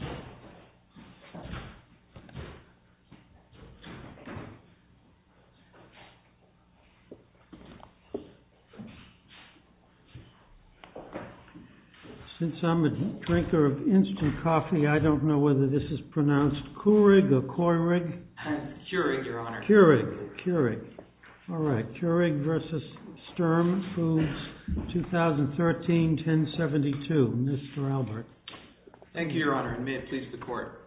2013-1072 Since I'm a drinker of instant coffee, I don't know whether this is pronounced Keurig or Koy-rig. Keurig, your Honor. Keurig. Keurig. All right. Keurig v. Sturm Foods, 2013-1072. Keurig v. Sturm Foods, 2013-1072. Mr. Albert. Thank you, Your Honor, and may it please the Court.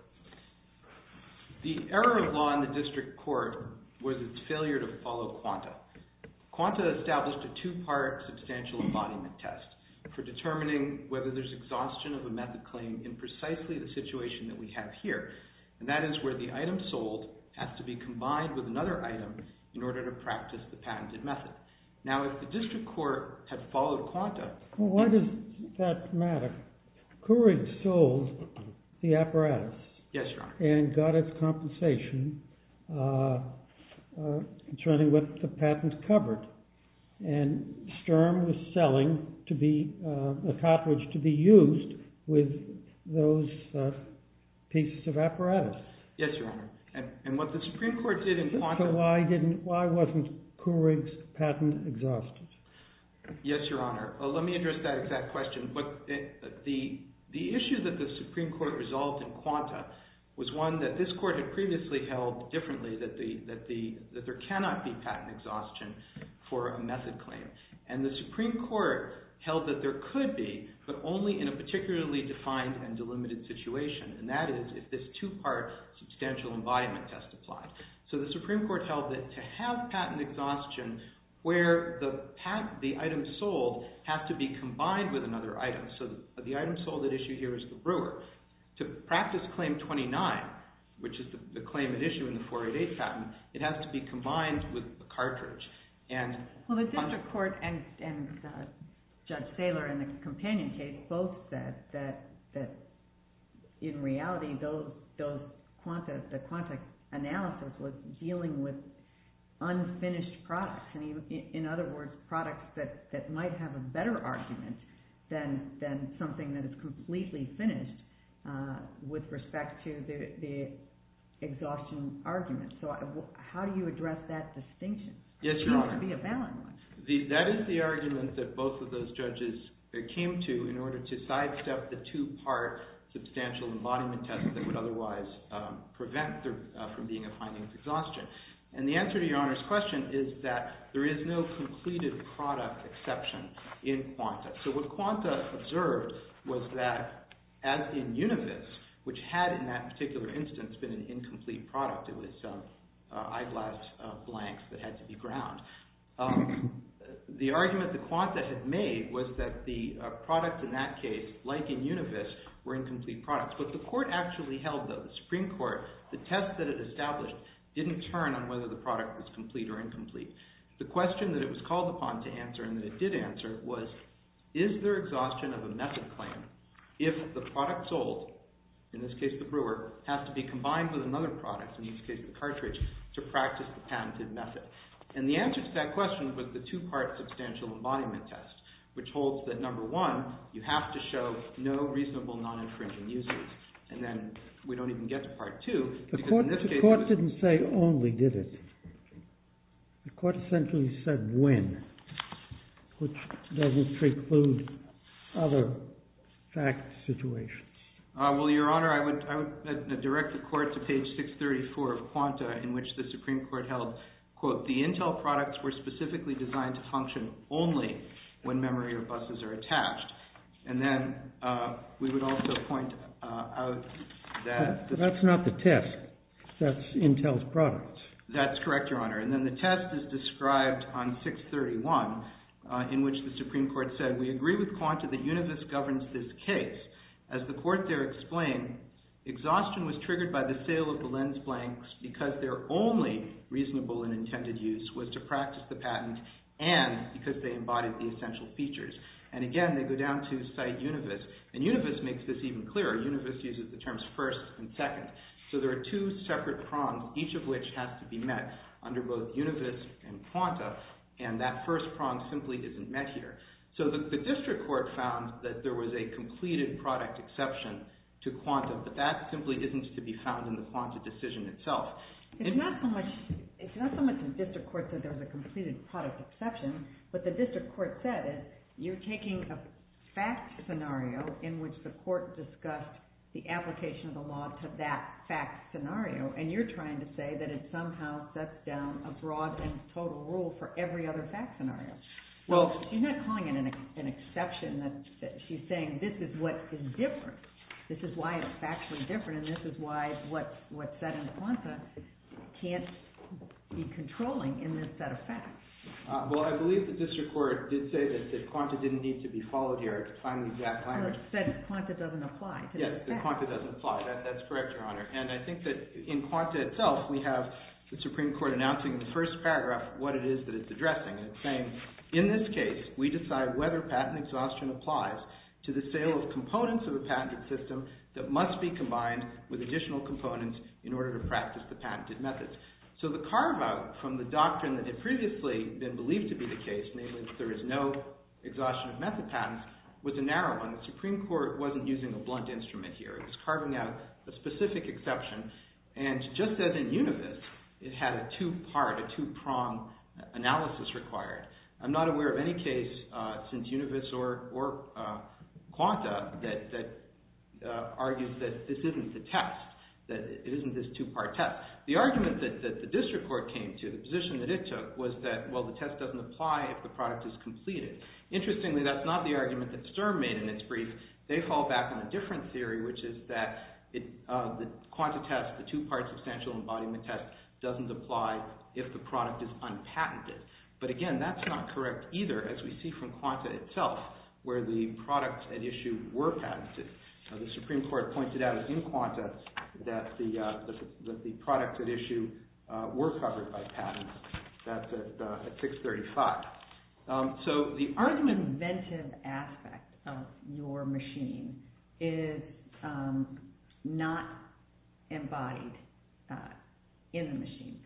The error of law in the district court was its failure to follow quanta. Quanta established a two-part substantial embodiment test for determining whether there's exhaustion of a method claim in precisely the situation that we have here, and that is where the item sold has to be combined with another item in order to practice the patented method. Now, if the district court had followed quanta— Well, why does that matter? Keurig sold the apparatus and got its compensation concerning what the patent covered, and Sturm was selling a cartridge to be used with those pieces of apparatus. Yes, Your Honor. And what the Supreme Court did in quanta— So why wasn't Keurig's patent exhausted? Yes, Your Honor. Let me address that exact question. The issue that the Supreme Court resolved in quanta was one that this Court had previously held differently, that there cannot be patent exhaustion for a method claim. And the Supreme Court held that there could be, but only in a particularly defined and delimited situation, and that is if this two-part substantial embodiment test applies. So the Supreme Court held that to have patent exhaustion where the item sold has to be combined with another item. So the item sold at issue here is the brewer. To practice Claim 29, which is the claim at issue in the 488 patent, it has to be combined with a cartridge. Well, the district court and Judge Saylor in the companion case both said that in reality those quanta—the quanta analysis was dealing with unfinished products. In other words, products that might have a better argument than something that is completely finished with respect to the exhaustion argument. So how do you address that distinction? Yes, Your Honor. It has to be a valid one. That is the argument that both of those judges came to in order to sidestep the two-part substantial embodiment test that would otherwise prevent there from being a finding of exhaustion. And the answer to Your Honor's question is that there is no completed product exception in quanta. So what quanta observed was that as in univis, which had in that particular instance been an incomplete product—it was some eyeglass blanks that had to be ground—the argument that the quanta had made was that the product in that case, like in univis, were incomplete products. What the court actually held though, the Supreme Court, the test that it established didn't turn on whether the product was complete or incomplete. The question that it was called upon to answer and that it did answer was, is there exhaustion of a method claim if the product sold, in this case the brewer, has to be combined with another product, in this case the cartridge, to practice the patented method? And the answer to that question was the two-part substantial embodiment test, which holds that number one, you have to show no reasonable non-infringing uses, and then we don't even get to part two. The court didn't say only did it. The court essentially said when, which doesn't preclude other fact situations. Well, Your Honor, I would direct the court to page 634 of quanta, in which the Supreme Court said, quote, the Intel products were specifically designed to function only when memory or buses are attached. And then we would also point out that... That's not the test. That's Intel's product. That's correct, Your Honor. And then the test is described on 631, in which the Supreme Court said, we agree with quanta that univis governs this case. As the court there explained, exhaustion was triggered by the sale of the lens blanks because their only reasonable and intended use was to practice the patent and because they embodied the essential features. And, again, they go down to cite univis, and univis makes this even clearer. Univis uses the terms first and second, so there are two separate prongs, each of which has to be met under both univis and quanta, and that first prong simply isn't met here. So the district court found that there was a completed product exception to quanta, but that simply isn't to be found in the quanta decision itself. It's not so much the district court said there was a completed product exception, but the district court said, you're taking a fact scenario in which the court discussed the application of the law to that fact scenario, and you're trying to say that it somehow sets down a broad and total rule for every other fact scenario. Well, she's not calling it an exception. She's saying this is what is different. This is why it's factually different, and this is why what's set in quanta can't be controlling in this set of facts. Well, I believe the district court did say that quanta didn't need to be followed here to find the exact language. Well, it said quanta doesn't apply to this fact. Yes, that quanta doesn't apply. That's correct, Your Honor. And I think that in quanta itself, we have the Supreme Court announcing in the first paragraph what it is that it's addressing, and it's saying, in this case, we decide whether patent exhaustion applies to the sale of components of a patented system that must be combined with additional components in order to practice the patented methods. So the carve-out from the doctrine that had previously been believed to be the case, namely that there is no exhaustion of method patents, was a narrow one. The Supreme Court wasn't using a blunt instrument here. It was carving out a specific exception, and just as in Univis, it had a two-part, a two-prong analysis required. I'm not aware of any case since Univis or quanta that argues that this isn't the test, that it isn't this two-part test. The argument that the district court came to, the position that it took, was that, well, the test doesn't apply if the product is completed. Interestingly, that's not the argument that Sturm made in its brief. They fall back on a different theory, which is that the quanta test, the two-part substantial embodiment test, doesn't apply if the product is unpatented. But again, that's not correct either, as we see from quanta itself, where the products at issue were patented. The Supreme Court pointed out, as in quanta, that the products at issue were covered by patents. That's at 635. So the argument- The inventive aspect of your machine is not embodied in the machine.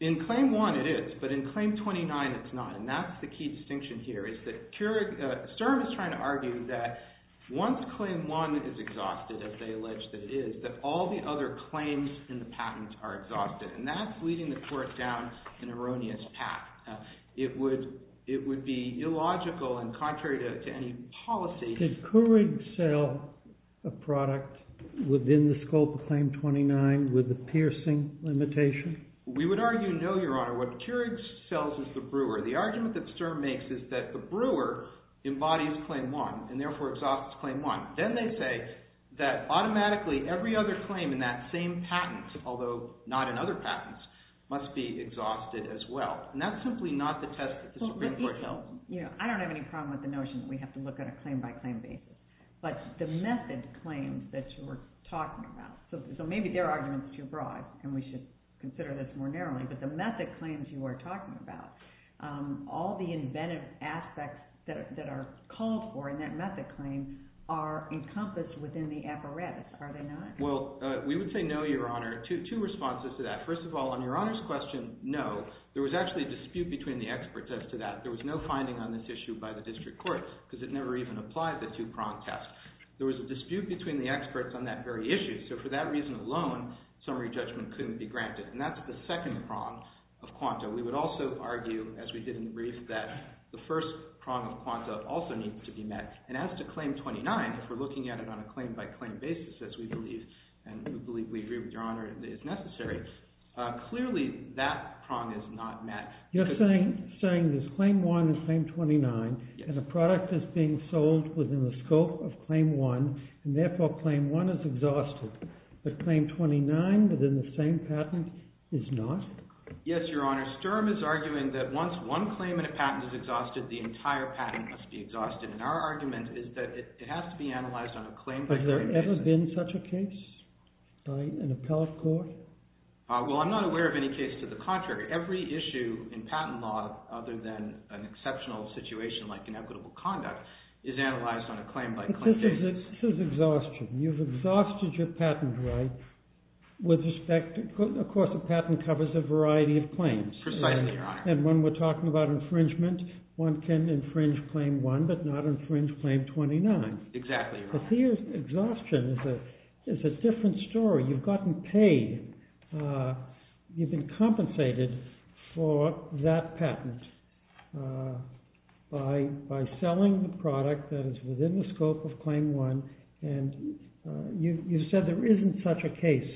In Claim 1, it is, but in Claim 29, it's not, and that's the key distinction here, is that Sturm is trying to argue that once Claim 1 is exhausted, as they allege that it is, that all the other claims in the patent are exhausted, and that's leading the court down an erroneous path. It would be illogical and contrary to any policy- Did Keurig sell a product within the scope of Claim 29 with the piercing limitation? We would argue, no, Your Honor. What Keurig sells is the brewer. The argument that Sturm makes is that the brewer embodies Claim 1, and therefore exhausts Claim 1. Then they say that automatically, every other claim in that same patent, although not in other patents, must be exhausted as well, and that's simply not the test that the Supreme Court held. I don't have any problem with the notion that we have to look at a claim-by-claim basis, but the method claims that you were talking about, so maybe their argument is too broad and we should consider this more narrowly, but the method claims you were talking about, all the inventive aspects that are called for in that method claim are encompassed within the apparatus, are they not? Well, we would say no, Your Honor. Two responses to that. First of all, on Your Honor's question, no, there was actually a dispute between the experts as to that. There was no finding on this issue by the district courts, because it never even applied the two-prong test. There was a dispute between the experts on that very issue, so for that reason alone, summary judgment couldn't be granted, and that's the second prong of quanta. We would also argue, as we did in the brief, that the first prong of quanta also needs to be met, and as to Claim 29, if we're looking at it on a claim-by-claim basis, as we believe, and we believe we agree with Your Honor that it's necessary, clearly that prong is not met. You're saying there's Claim 1 and Claim 29, and the product is being sold within the scope of Claim 1, and therefore Claim 1 is exhausted, but Claim 29 within the same patent is not? Yes, Your Honor. Sturm is arguing that once one claim in a patent is exhausted, the entire patent must be exhausted, and our argument is that it has to be analyzed on a claim-by-claim basis. Has there ever been such a case by an appellate court? Well, I'm not aware of any case to the contrary. Every issue in patent law, other than an exceptional situation like inequitable conduct, is analyzed on a claim-by-claim basis. But this is exhaustion. You've exhausted your patent right with respect to, of course, a patent covers a variety of claims. Precisely, Your Honor. And when we're talking about infringement, one can infringe Claim 1, but not infringe Claim 29. Exactly, Your Honor. But here, exhaustion is a different story. You've gotten paid. You've been compensated for that patent by selling the product that is within the scope of Claim 1, and you've said there isn't such a case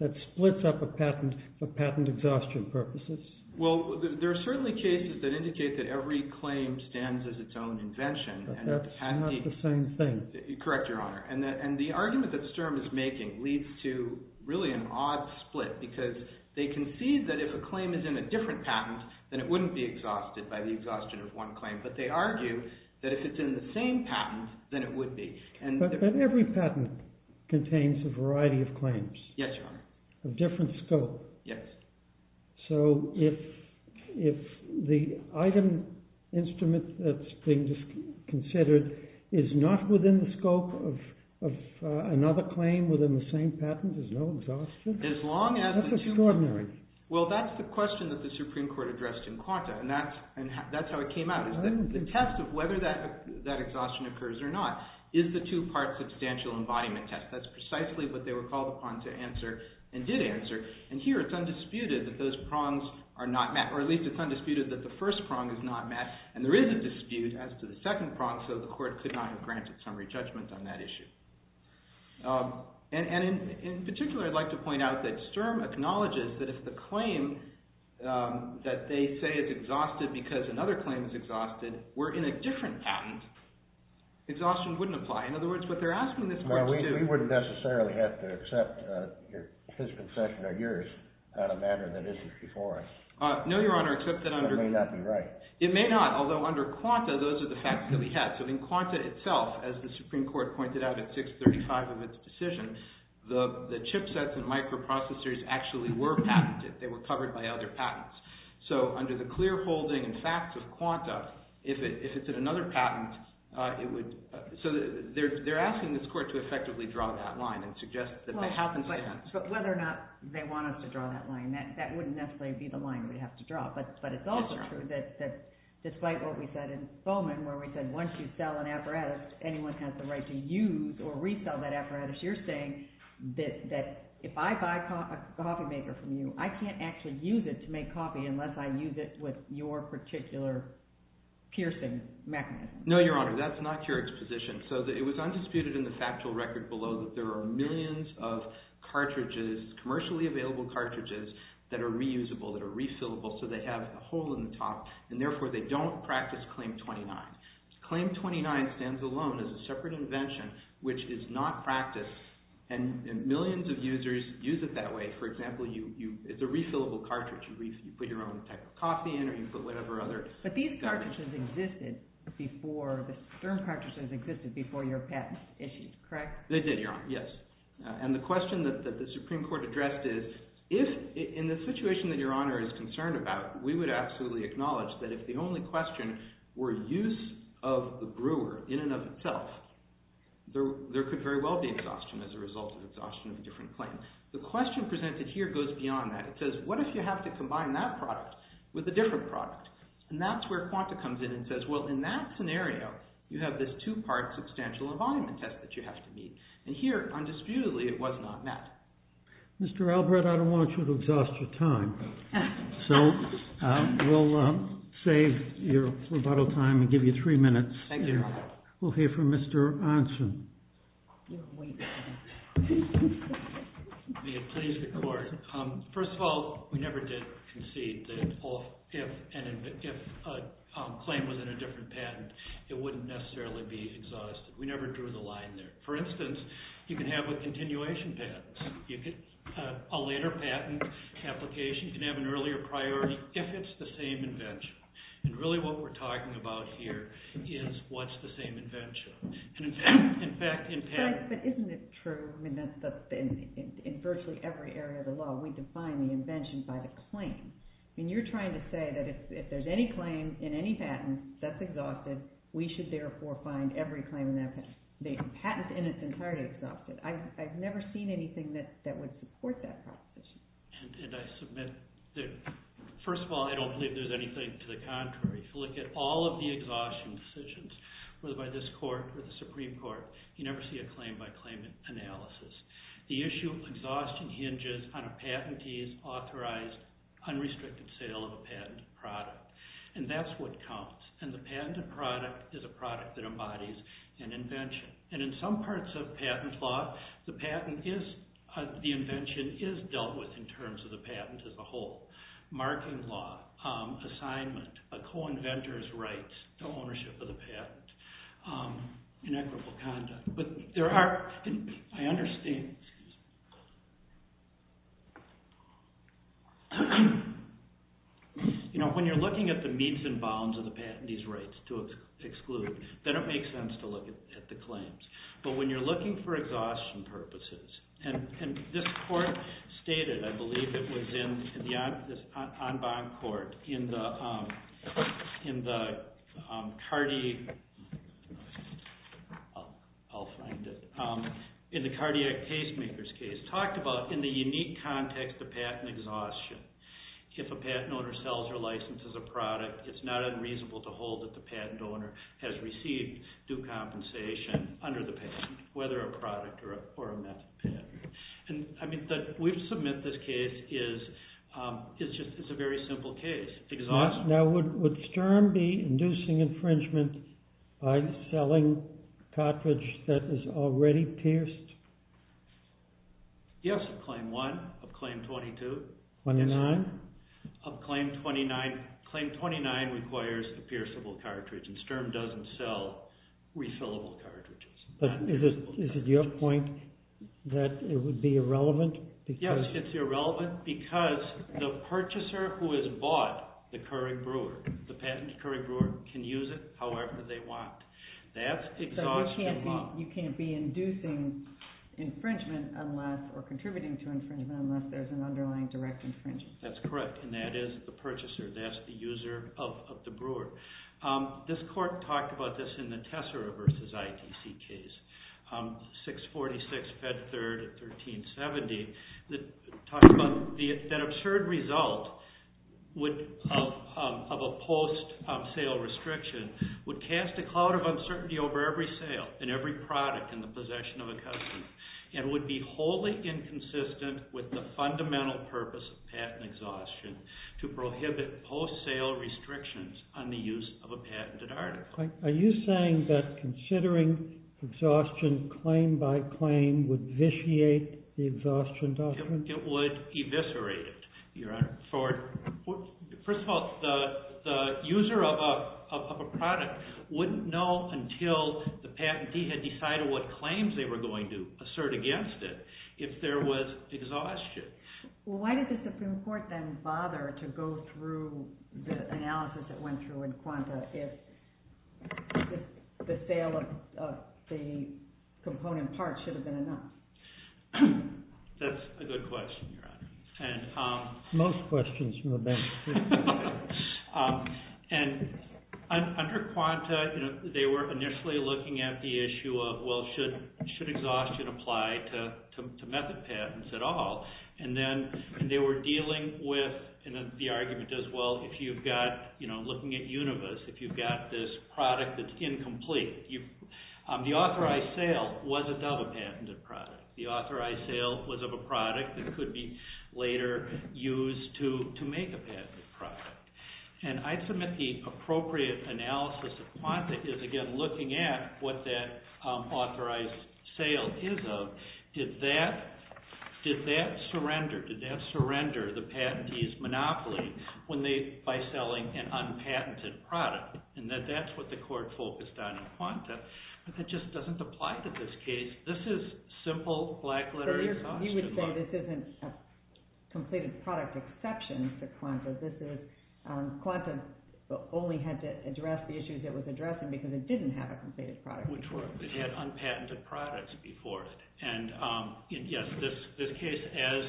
that splits up a patent for patent exhaustion purposes. Well, there are certainly cases that indicate that every claim stands as its own invention. But that's not the same thing. Correct, Your Honor. And the argument that Sturm is making leads to, really, an odd split, because they concede that if a claim is in a different patent, then it wouldn't be exhausted by the exhaustion of one claim. But they argue that if it's in the same patent, then it would be. But every patent contains a variety of claims. Yes, Your Honor. Of different scope. Yes. So if the item instrument that's being considered is not within the scope of another claim within the same patent, there's no exhaustion? That's extraordinary. Well, that's the question that the Supreme Court addressed in Quanta, and that's how it came out. The test of whether that exhaustion occurs or not is the two-part substantial embodiment test. That's precisely what they were called upon to answer and did answer. And here, it's undisputed that those prongs are not met, or at least it's undisputed that the first prong is not met. And there is a dispute as to the second prong, so the court could not have granted summary judgment on that issue. And in particular, I'd like to point out that Sturm acknowledges that if the claim that they say is exhausted because another claim is exhausted were in a different patent, exhaustion wouldn't apply. In other words, what they're asking this court to do— No, Your Honor, except that under— That may not be right. It may not, although under Quanta, those are the facts that we have. So in Quanta itself, as the Supreme Court pointed out at 635 of its decision, the chipsets and microprocessors actually were patented. They were covered by other patents. So under the clear holding and facts of Quanta, if it's in another patent, it would—so they're asking this court to effectively draw that line and suggest that they have But whether or not they want us to draw that line, that wouldn't necessarily be the line we'd have to draw. But it's also true that despite what we said in Solman, where we said once you sell an apparatus, anyone has the right to use or resell that apparatus, you're saying that if I buy a coffee maker from you, I can't actually use it to make coffee unless I use it with your particular piercing mechanism. No, Your Honor, that's not your exposition. So it was undisputed in the factual record below that there are millions of cartridges, commercially available cartridges, that are reusable, that are refillable, so they have a hole in the top, and therefore they don't practice Claim 29. Claim 29 stands alone as a separate invention, which is not practiced, and millions of users use it that way. For example, it's a refillable cartridge. You put your own type of coffee in or you put whatever other— But these cartridges existed before, the stern cartridges existed before your patent issue, correct? They did, Your Honor, yes. And the question that the Supreme Court addressed is, if in the situation that Your Honor is concerned about, we would absolutely acknowledge that if the only question were use of the brewer in and of itself, there could very well be exhaustion as a result of exhaustion of a different claim. The question presented here goes beyond that. It says, what if you have to combine that product with a different product? And that's where Quanta comes in and says, well, in that scenario, you have this two-part substantial environment test that you have to meet. And here, undisputedly, it was not met. Mr. Albrecht, I don't want you to exhaust your time, so we'll save your rebuttal time and give you three minutes. Thank you, Your Honor. We'll hear from Mr. Onsen. May it please the Court. First of all, we never did concede that if a claim was in a different patent, it wouldn't necessarily be exhausted. We never drew the line there. For instance, you can have a continuation patent. A later patent application can have an earlier priority if it's the same invention. And really, what we're talking about here is what's the same invention. But isn't it true that in virtually every area of the law, we define the invention by the claim? I mean, you're trying to say that if there's any claim in any patent that's exhausted, we should therefore find every claim in that patent. The patent in its entirety is exhausted. I've never seen anything that would support that proposition. And I submit that, first of all, I don't believe there's anything to the contrary. If you look at all of the exhaustion decisions, whether by this court or the Supreme Court, you never see a claim-by-claim analysis. The issue of exhaustion hinges on a patentee's authorized, unrestricted sale of a patented product. And that's what counts. And the patented product is a product that embodies an invention. And in some parts of patent law, the invention is dealt with in terms of the patent as a whole. Marking law, assignment, a co-inventor's rights to ownership of the patent, and equitable conduct. But there are, I understand, you know, when you're looking at the meets and bounds of the patentee's rights to exclude, then it makes sense to look at the claims. But when you're looking for exhaustion purposes, and this court stated, I believe it was in the En Bonne Court, in the cardiac casemaker's case, talked about in the unique context of patent exhaustion. If a patent owner sells their license as a product, it's not unreasonable to hold that the patent owner has received due compensation under the patent, whether a product or a method patent. And I mean, we've submitted this case, it's just a very simple case. Exhaustion. Now, would Sturm be inducing infringement by selling a cartridge that is already pierced? Yes, of claim one, of claim 22. 29? Of claim 29. Claim 29 requires a pierceable cartridge, and Sturm doesn't sell refillable cartridges. But is it your point that it would be irrelevant? Yes, it's irrelevant because the purchaser who has bought the Curry Brewer, the patented Curry Brewer, can use it however they want. That's exhaustion law. So you can't be inducing infringement unless, or contributing to infringement, unless there's an underlying direct infringement? That's correct, and that is the purchaser. That's the user of the Brewer. This court talked about this in the Tessera v. ITC case, 646, Fed 3rd, 1370, that talks about that absurd result of a post-sale restriction would cast a cloud of uncertainty over every sale and every product in the possession of a customer, and would be wholly inconsistent with the fundamental purpose of patent exhaustion to prohibit post-sale restrictions on the use of a patented article. Are you saying that considering exhaustion claim by claim would vitiate the exhaustion doctrine? It would eviscerate it, Your Honor. First of all, the user of a product wouldn't know until the patentee had decided what claims they were going to assert against it if there was exhaustion. Well, why did the Supreme Court then bother to go through the analysis that went through in Quanta if the sale of the component parts should have been enough? That's a good question, Your Honor. Most questions from the bank. And under Quanta, they were initially looking at the issue of, well, should exhaustion apply to method patents at all? And then they were dealing with, and the argument is, well, if you've got, looking at Univis, if you've got this product that's incomplete, the authorized sale was a double-patented product. The authorized sale was of a product that could be later used to make a patented product. And I submit the appropriate analysis of Quanta is, again, looking at what that authorized sale is of. Did that surrender, did that surrender the patentee's monopoly by selling an unpatented product? And that's what the court focused on in Quanta. But that just doesn't apply to this case. This is simple black-letter exhaustion. You would say this isn't a completed product exception for Quanta. This is, Quanta only had to address the issues it was addressing because it didn't have a completed product. Which were, it had unpatented products before. And, yes, this case, as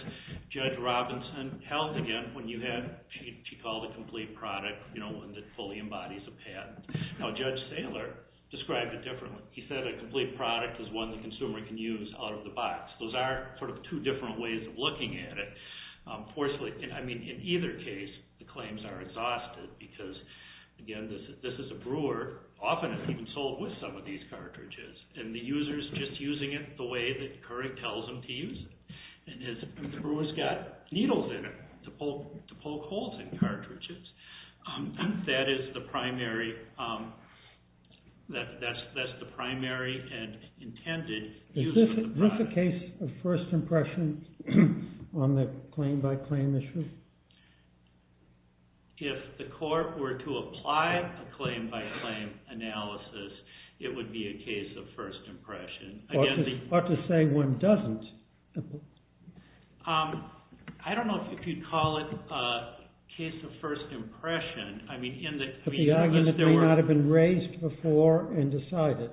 Judge Robinson held again, when you had, he called a complete product, you know, one that fully embodies a patent. Now, Judge Saylor described it differently. He said a complete product is one the consumer can use out of the box. Those are sort of two different ways of looking at it. Fortunately, I mean, in either case, the claims are exhausted because, again, this is a brewer. Often it's even sold with some of these cartridges. And the user's just using it the way that Couric tells them to use it. And the brewer's got needles in it to poke holes in cartridges. That is the primary, that's the primary and intended use of the product. Is this a case of first impression on the claim-by-claim issue? If the court were to apply a claim-by-claim analysis, it would be a case of first impression. Or to say one doesn't. I don't know if you'd call it a case of first impression. I mean, in the... But the argument may not have been raised before and decided.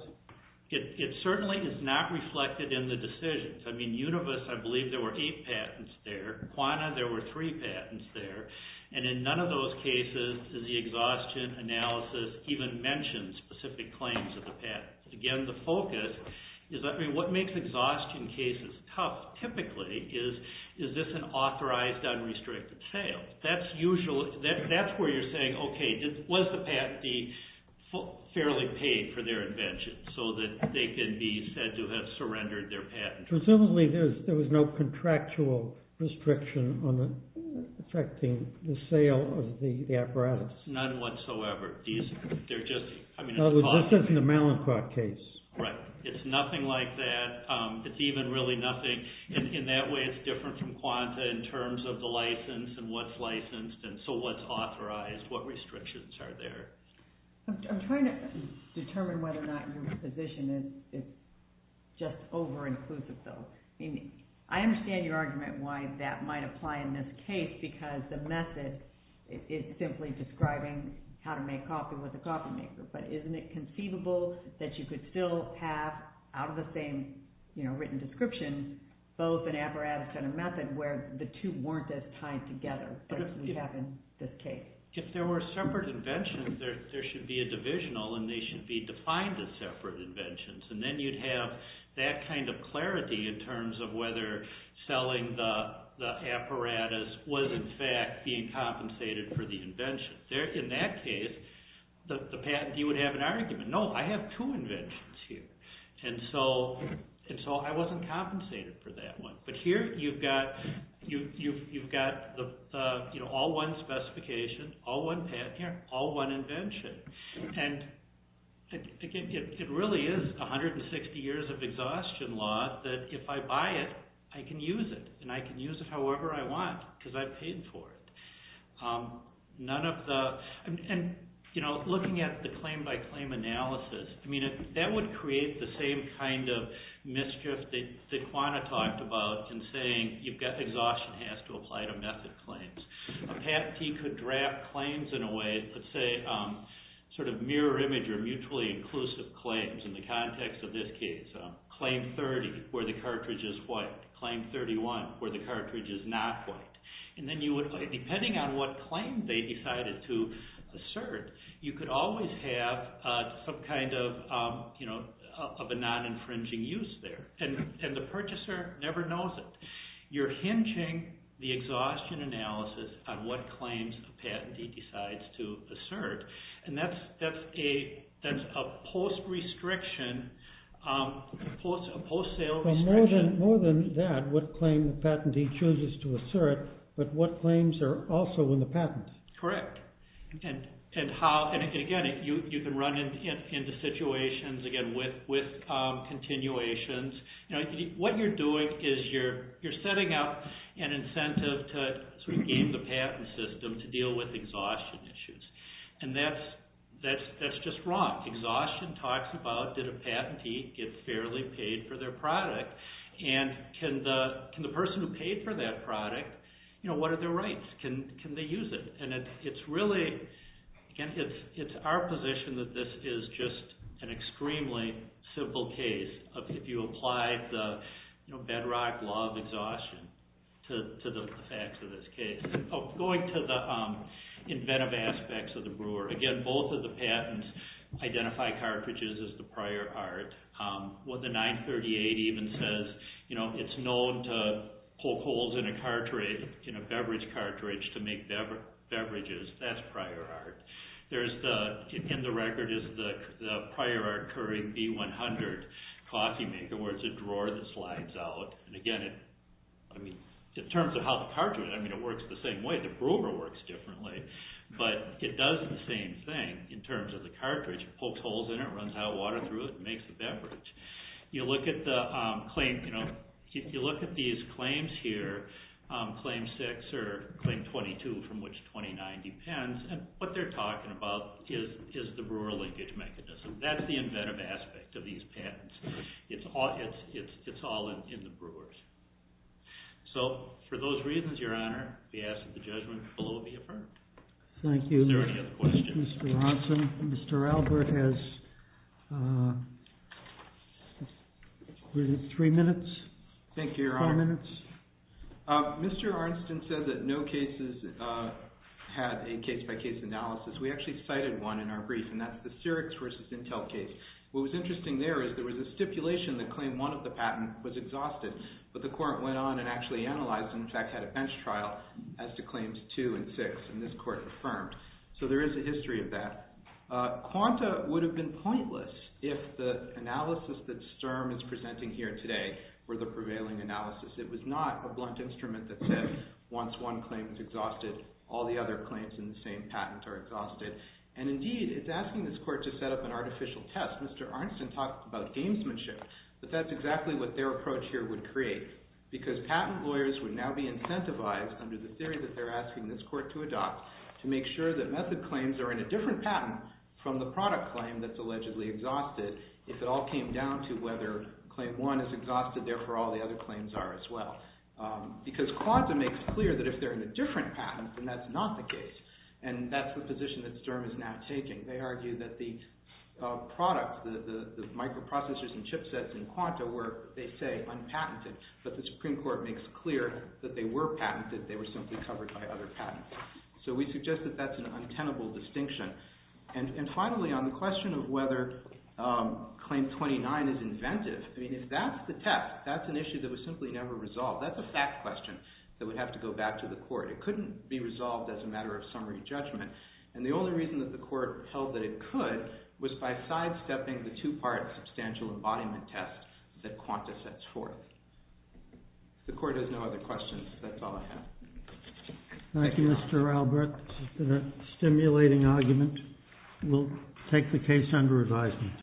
It certainly is not reflected in the decisions. I mean, Univis, I believe there were eight patents there. Quana, there were three patents there. And in none of those cases does the exhaustion analysis even mention specific claims of the patents. Again, the focus is, I mean, what makes exhaustion cases tough typically is, is this an authorized unrestricted sale? That's where you're saying, okay, was the patentee fairly paid for their invention so that they can be said to have surrendered their patent? Presumably there was no contractual restriction on affecting the sale of the apparatus. None whatsoever. This isn't a Mallinckrodt case. Right. It's nothing like that. It's even really nothing. In that way, it's different from Quanta in terms of the license and what's licensed and so what's authorized. What restrictions are there? I'm trying to determine whether or not your position is just over-inclusive, though. I mean, I understand your argument why that might apply in this case because the method is simply describing how to make coffee with a coffee maker. But isn't it conceivable that you could still have, out of the same written description, both an apparatus and a method where the two weren't as tied together as we have in this case? If there were separate inventions, there should be a divisional, and they should be defined as separate inventions. And then you'd have that kind of clarity in terms of whether selling the apparatus was in fact being compensated for the invention. In that case, the patentee would have an argument. No, I have two inventions here. And so I wasn't compensated for that one. But here you've got all one specification, all one patent, all one invention. And it really is 160 years of exhaustion law that if I buy it, I can use it. And I can use it however I want because I paid for it. And looking at the claim-by-claim analysis, that would create the same kind of mischief that Quanah talked about in saying exhaustion has to apply to method claims. A patentee could draft claims in a way, let's say sort of mirror image or mutually inclusive claims in the context of this case. Claim 30, where the cartridge is white. Claim 31, where the cartridge is not white. And then depending on what claim they decided to assert, you could always have some kind of a non-infringing use there. And the purchaser never knows it. You're hinging the exhaustion analysis on what claims the patentee decides to assert. And that's a post-sale restriction. More than that, what claim the patentee chooses to assert, but what claims are also in the patent. Correct. And again, you can run into situations, again, with continuations. What you're doing is you're setting up an incentive to game the patent system to deal with exhaustion issues. And that's just wrong. Exhaustion talks about did a patentee get fairly paid for their product? And can the person who paid for that product, what are their rights? Can they use it? And it's really, again, it's our position that this is just an extremely simple case of if you apply the bedrock law of exhaustion to the facts of this case. Going to the inventive aspects of the brewer. Again, both of the patents identify cartridges as the prior art. What the 938 even says, it's known to poke holes in a beverage cartridge to make beverages. That's prior art. In the record is the prior art curry B-100 coffee maker, where it's a drawer that slides out. And again, in terms of how the cartridge, I mean, it works the same way. The brewer works differently. But it does the same thing in terms of the cartridge. It pokes holes in it, runs hot water through it, and makes a beverage. You look at these claims here, Claim 6 or Claim 22, from which 29 depends, and what they're talking about is the brewer linkage mechanism. That's the inventive aspect of these patents. It's all in the brewers. So for those reasons, Your Honor, we ask that the judgment below be affirmed. Thank you. Is there any other questions? Mr. Ronson. Mr. Albert has three minutes. Thank you, Your Honor. Four minutes. Mr. Arnston said that no cases had a case-by-case analysis. We actually cited one in our brief, and that's the Syrix versus Intel case. What was interesting there is there was a stipulation that claimed one of the patent was exhausted, but the court went on and actually analyzed and, in fact, had a bench trial as to Claims 2 and 6, and this court affirmed. So there is a history of that. Quanta would have been pointless if the analysis that Sturm is presenting here today were the prevailing analysis. It was not a blunt instrument that said once one claim is exhausted, all the other claims in the same patent are exhausted, and, indeed, it's asking this court to set up an artificial test. Mr. Arnston talked about gamesmanship, but that's exactly what their approach here would create because patent lawyers would now be incentivized under the theory that they're asking this court to adopt to make sure that method claims are in a different patent from the product claim that's allegedly exhausted. If it all came down to whether Claim 1 is exhausted, therefore all the other claims are as well because Quanta makes clear that if they're in a different patent, then that's not the case, and that's the position that Sturm is now taking. They argue that the products, the microprocessors and chipsets in Quanta were, they say, unpatented, but the Supreme Court makes clear that they were patented. They were simply covered by other patents. So we suggest that that's an untenable distinction. And, finally, on the question of whether Claim 29 is inventive, I mean, if that's the test, that's an issue that was simply never resolved. That's a fact question that would have to go back to the court. It couldn't be resolved as a matter of summary judgment. And the only reason that the court held that it could was by sidestepping the two-part substantial embodiment test that Quanta sets forth. If the court has no other questions, that's all I have. Thank you, Mr. Albert. This has been a stimulating argument. We'll take the case under advisement.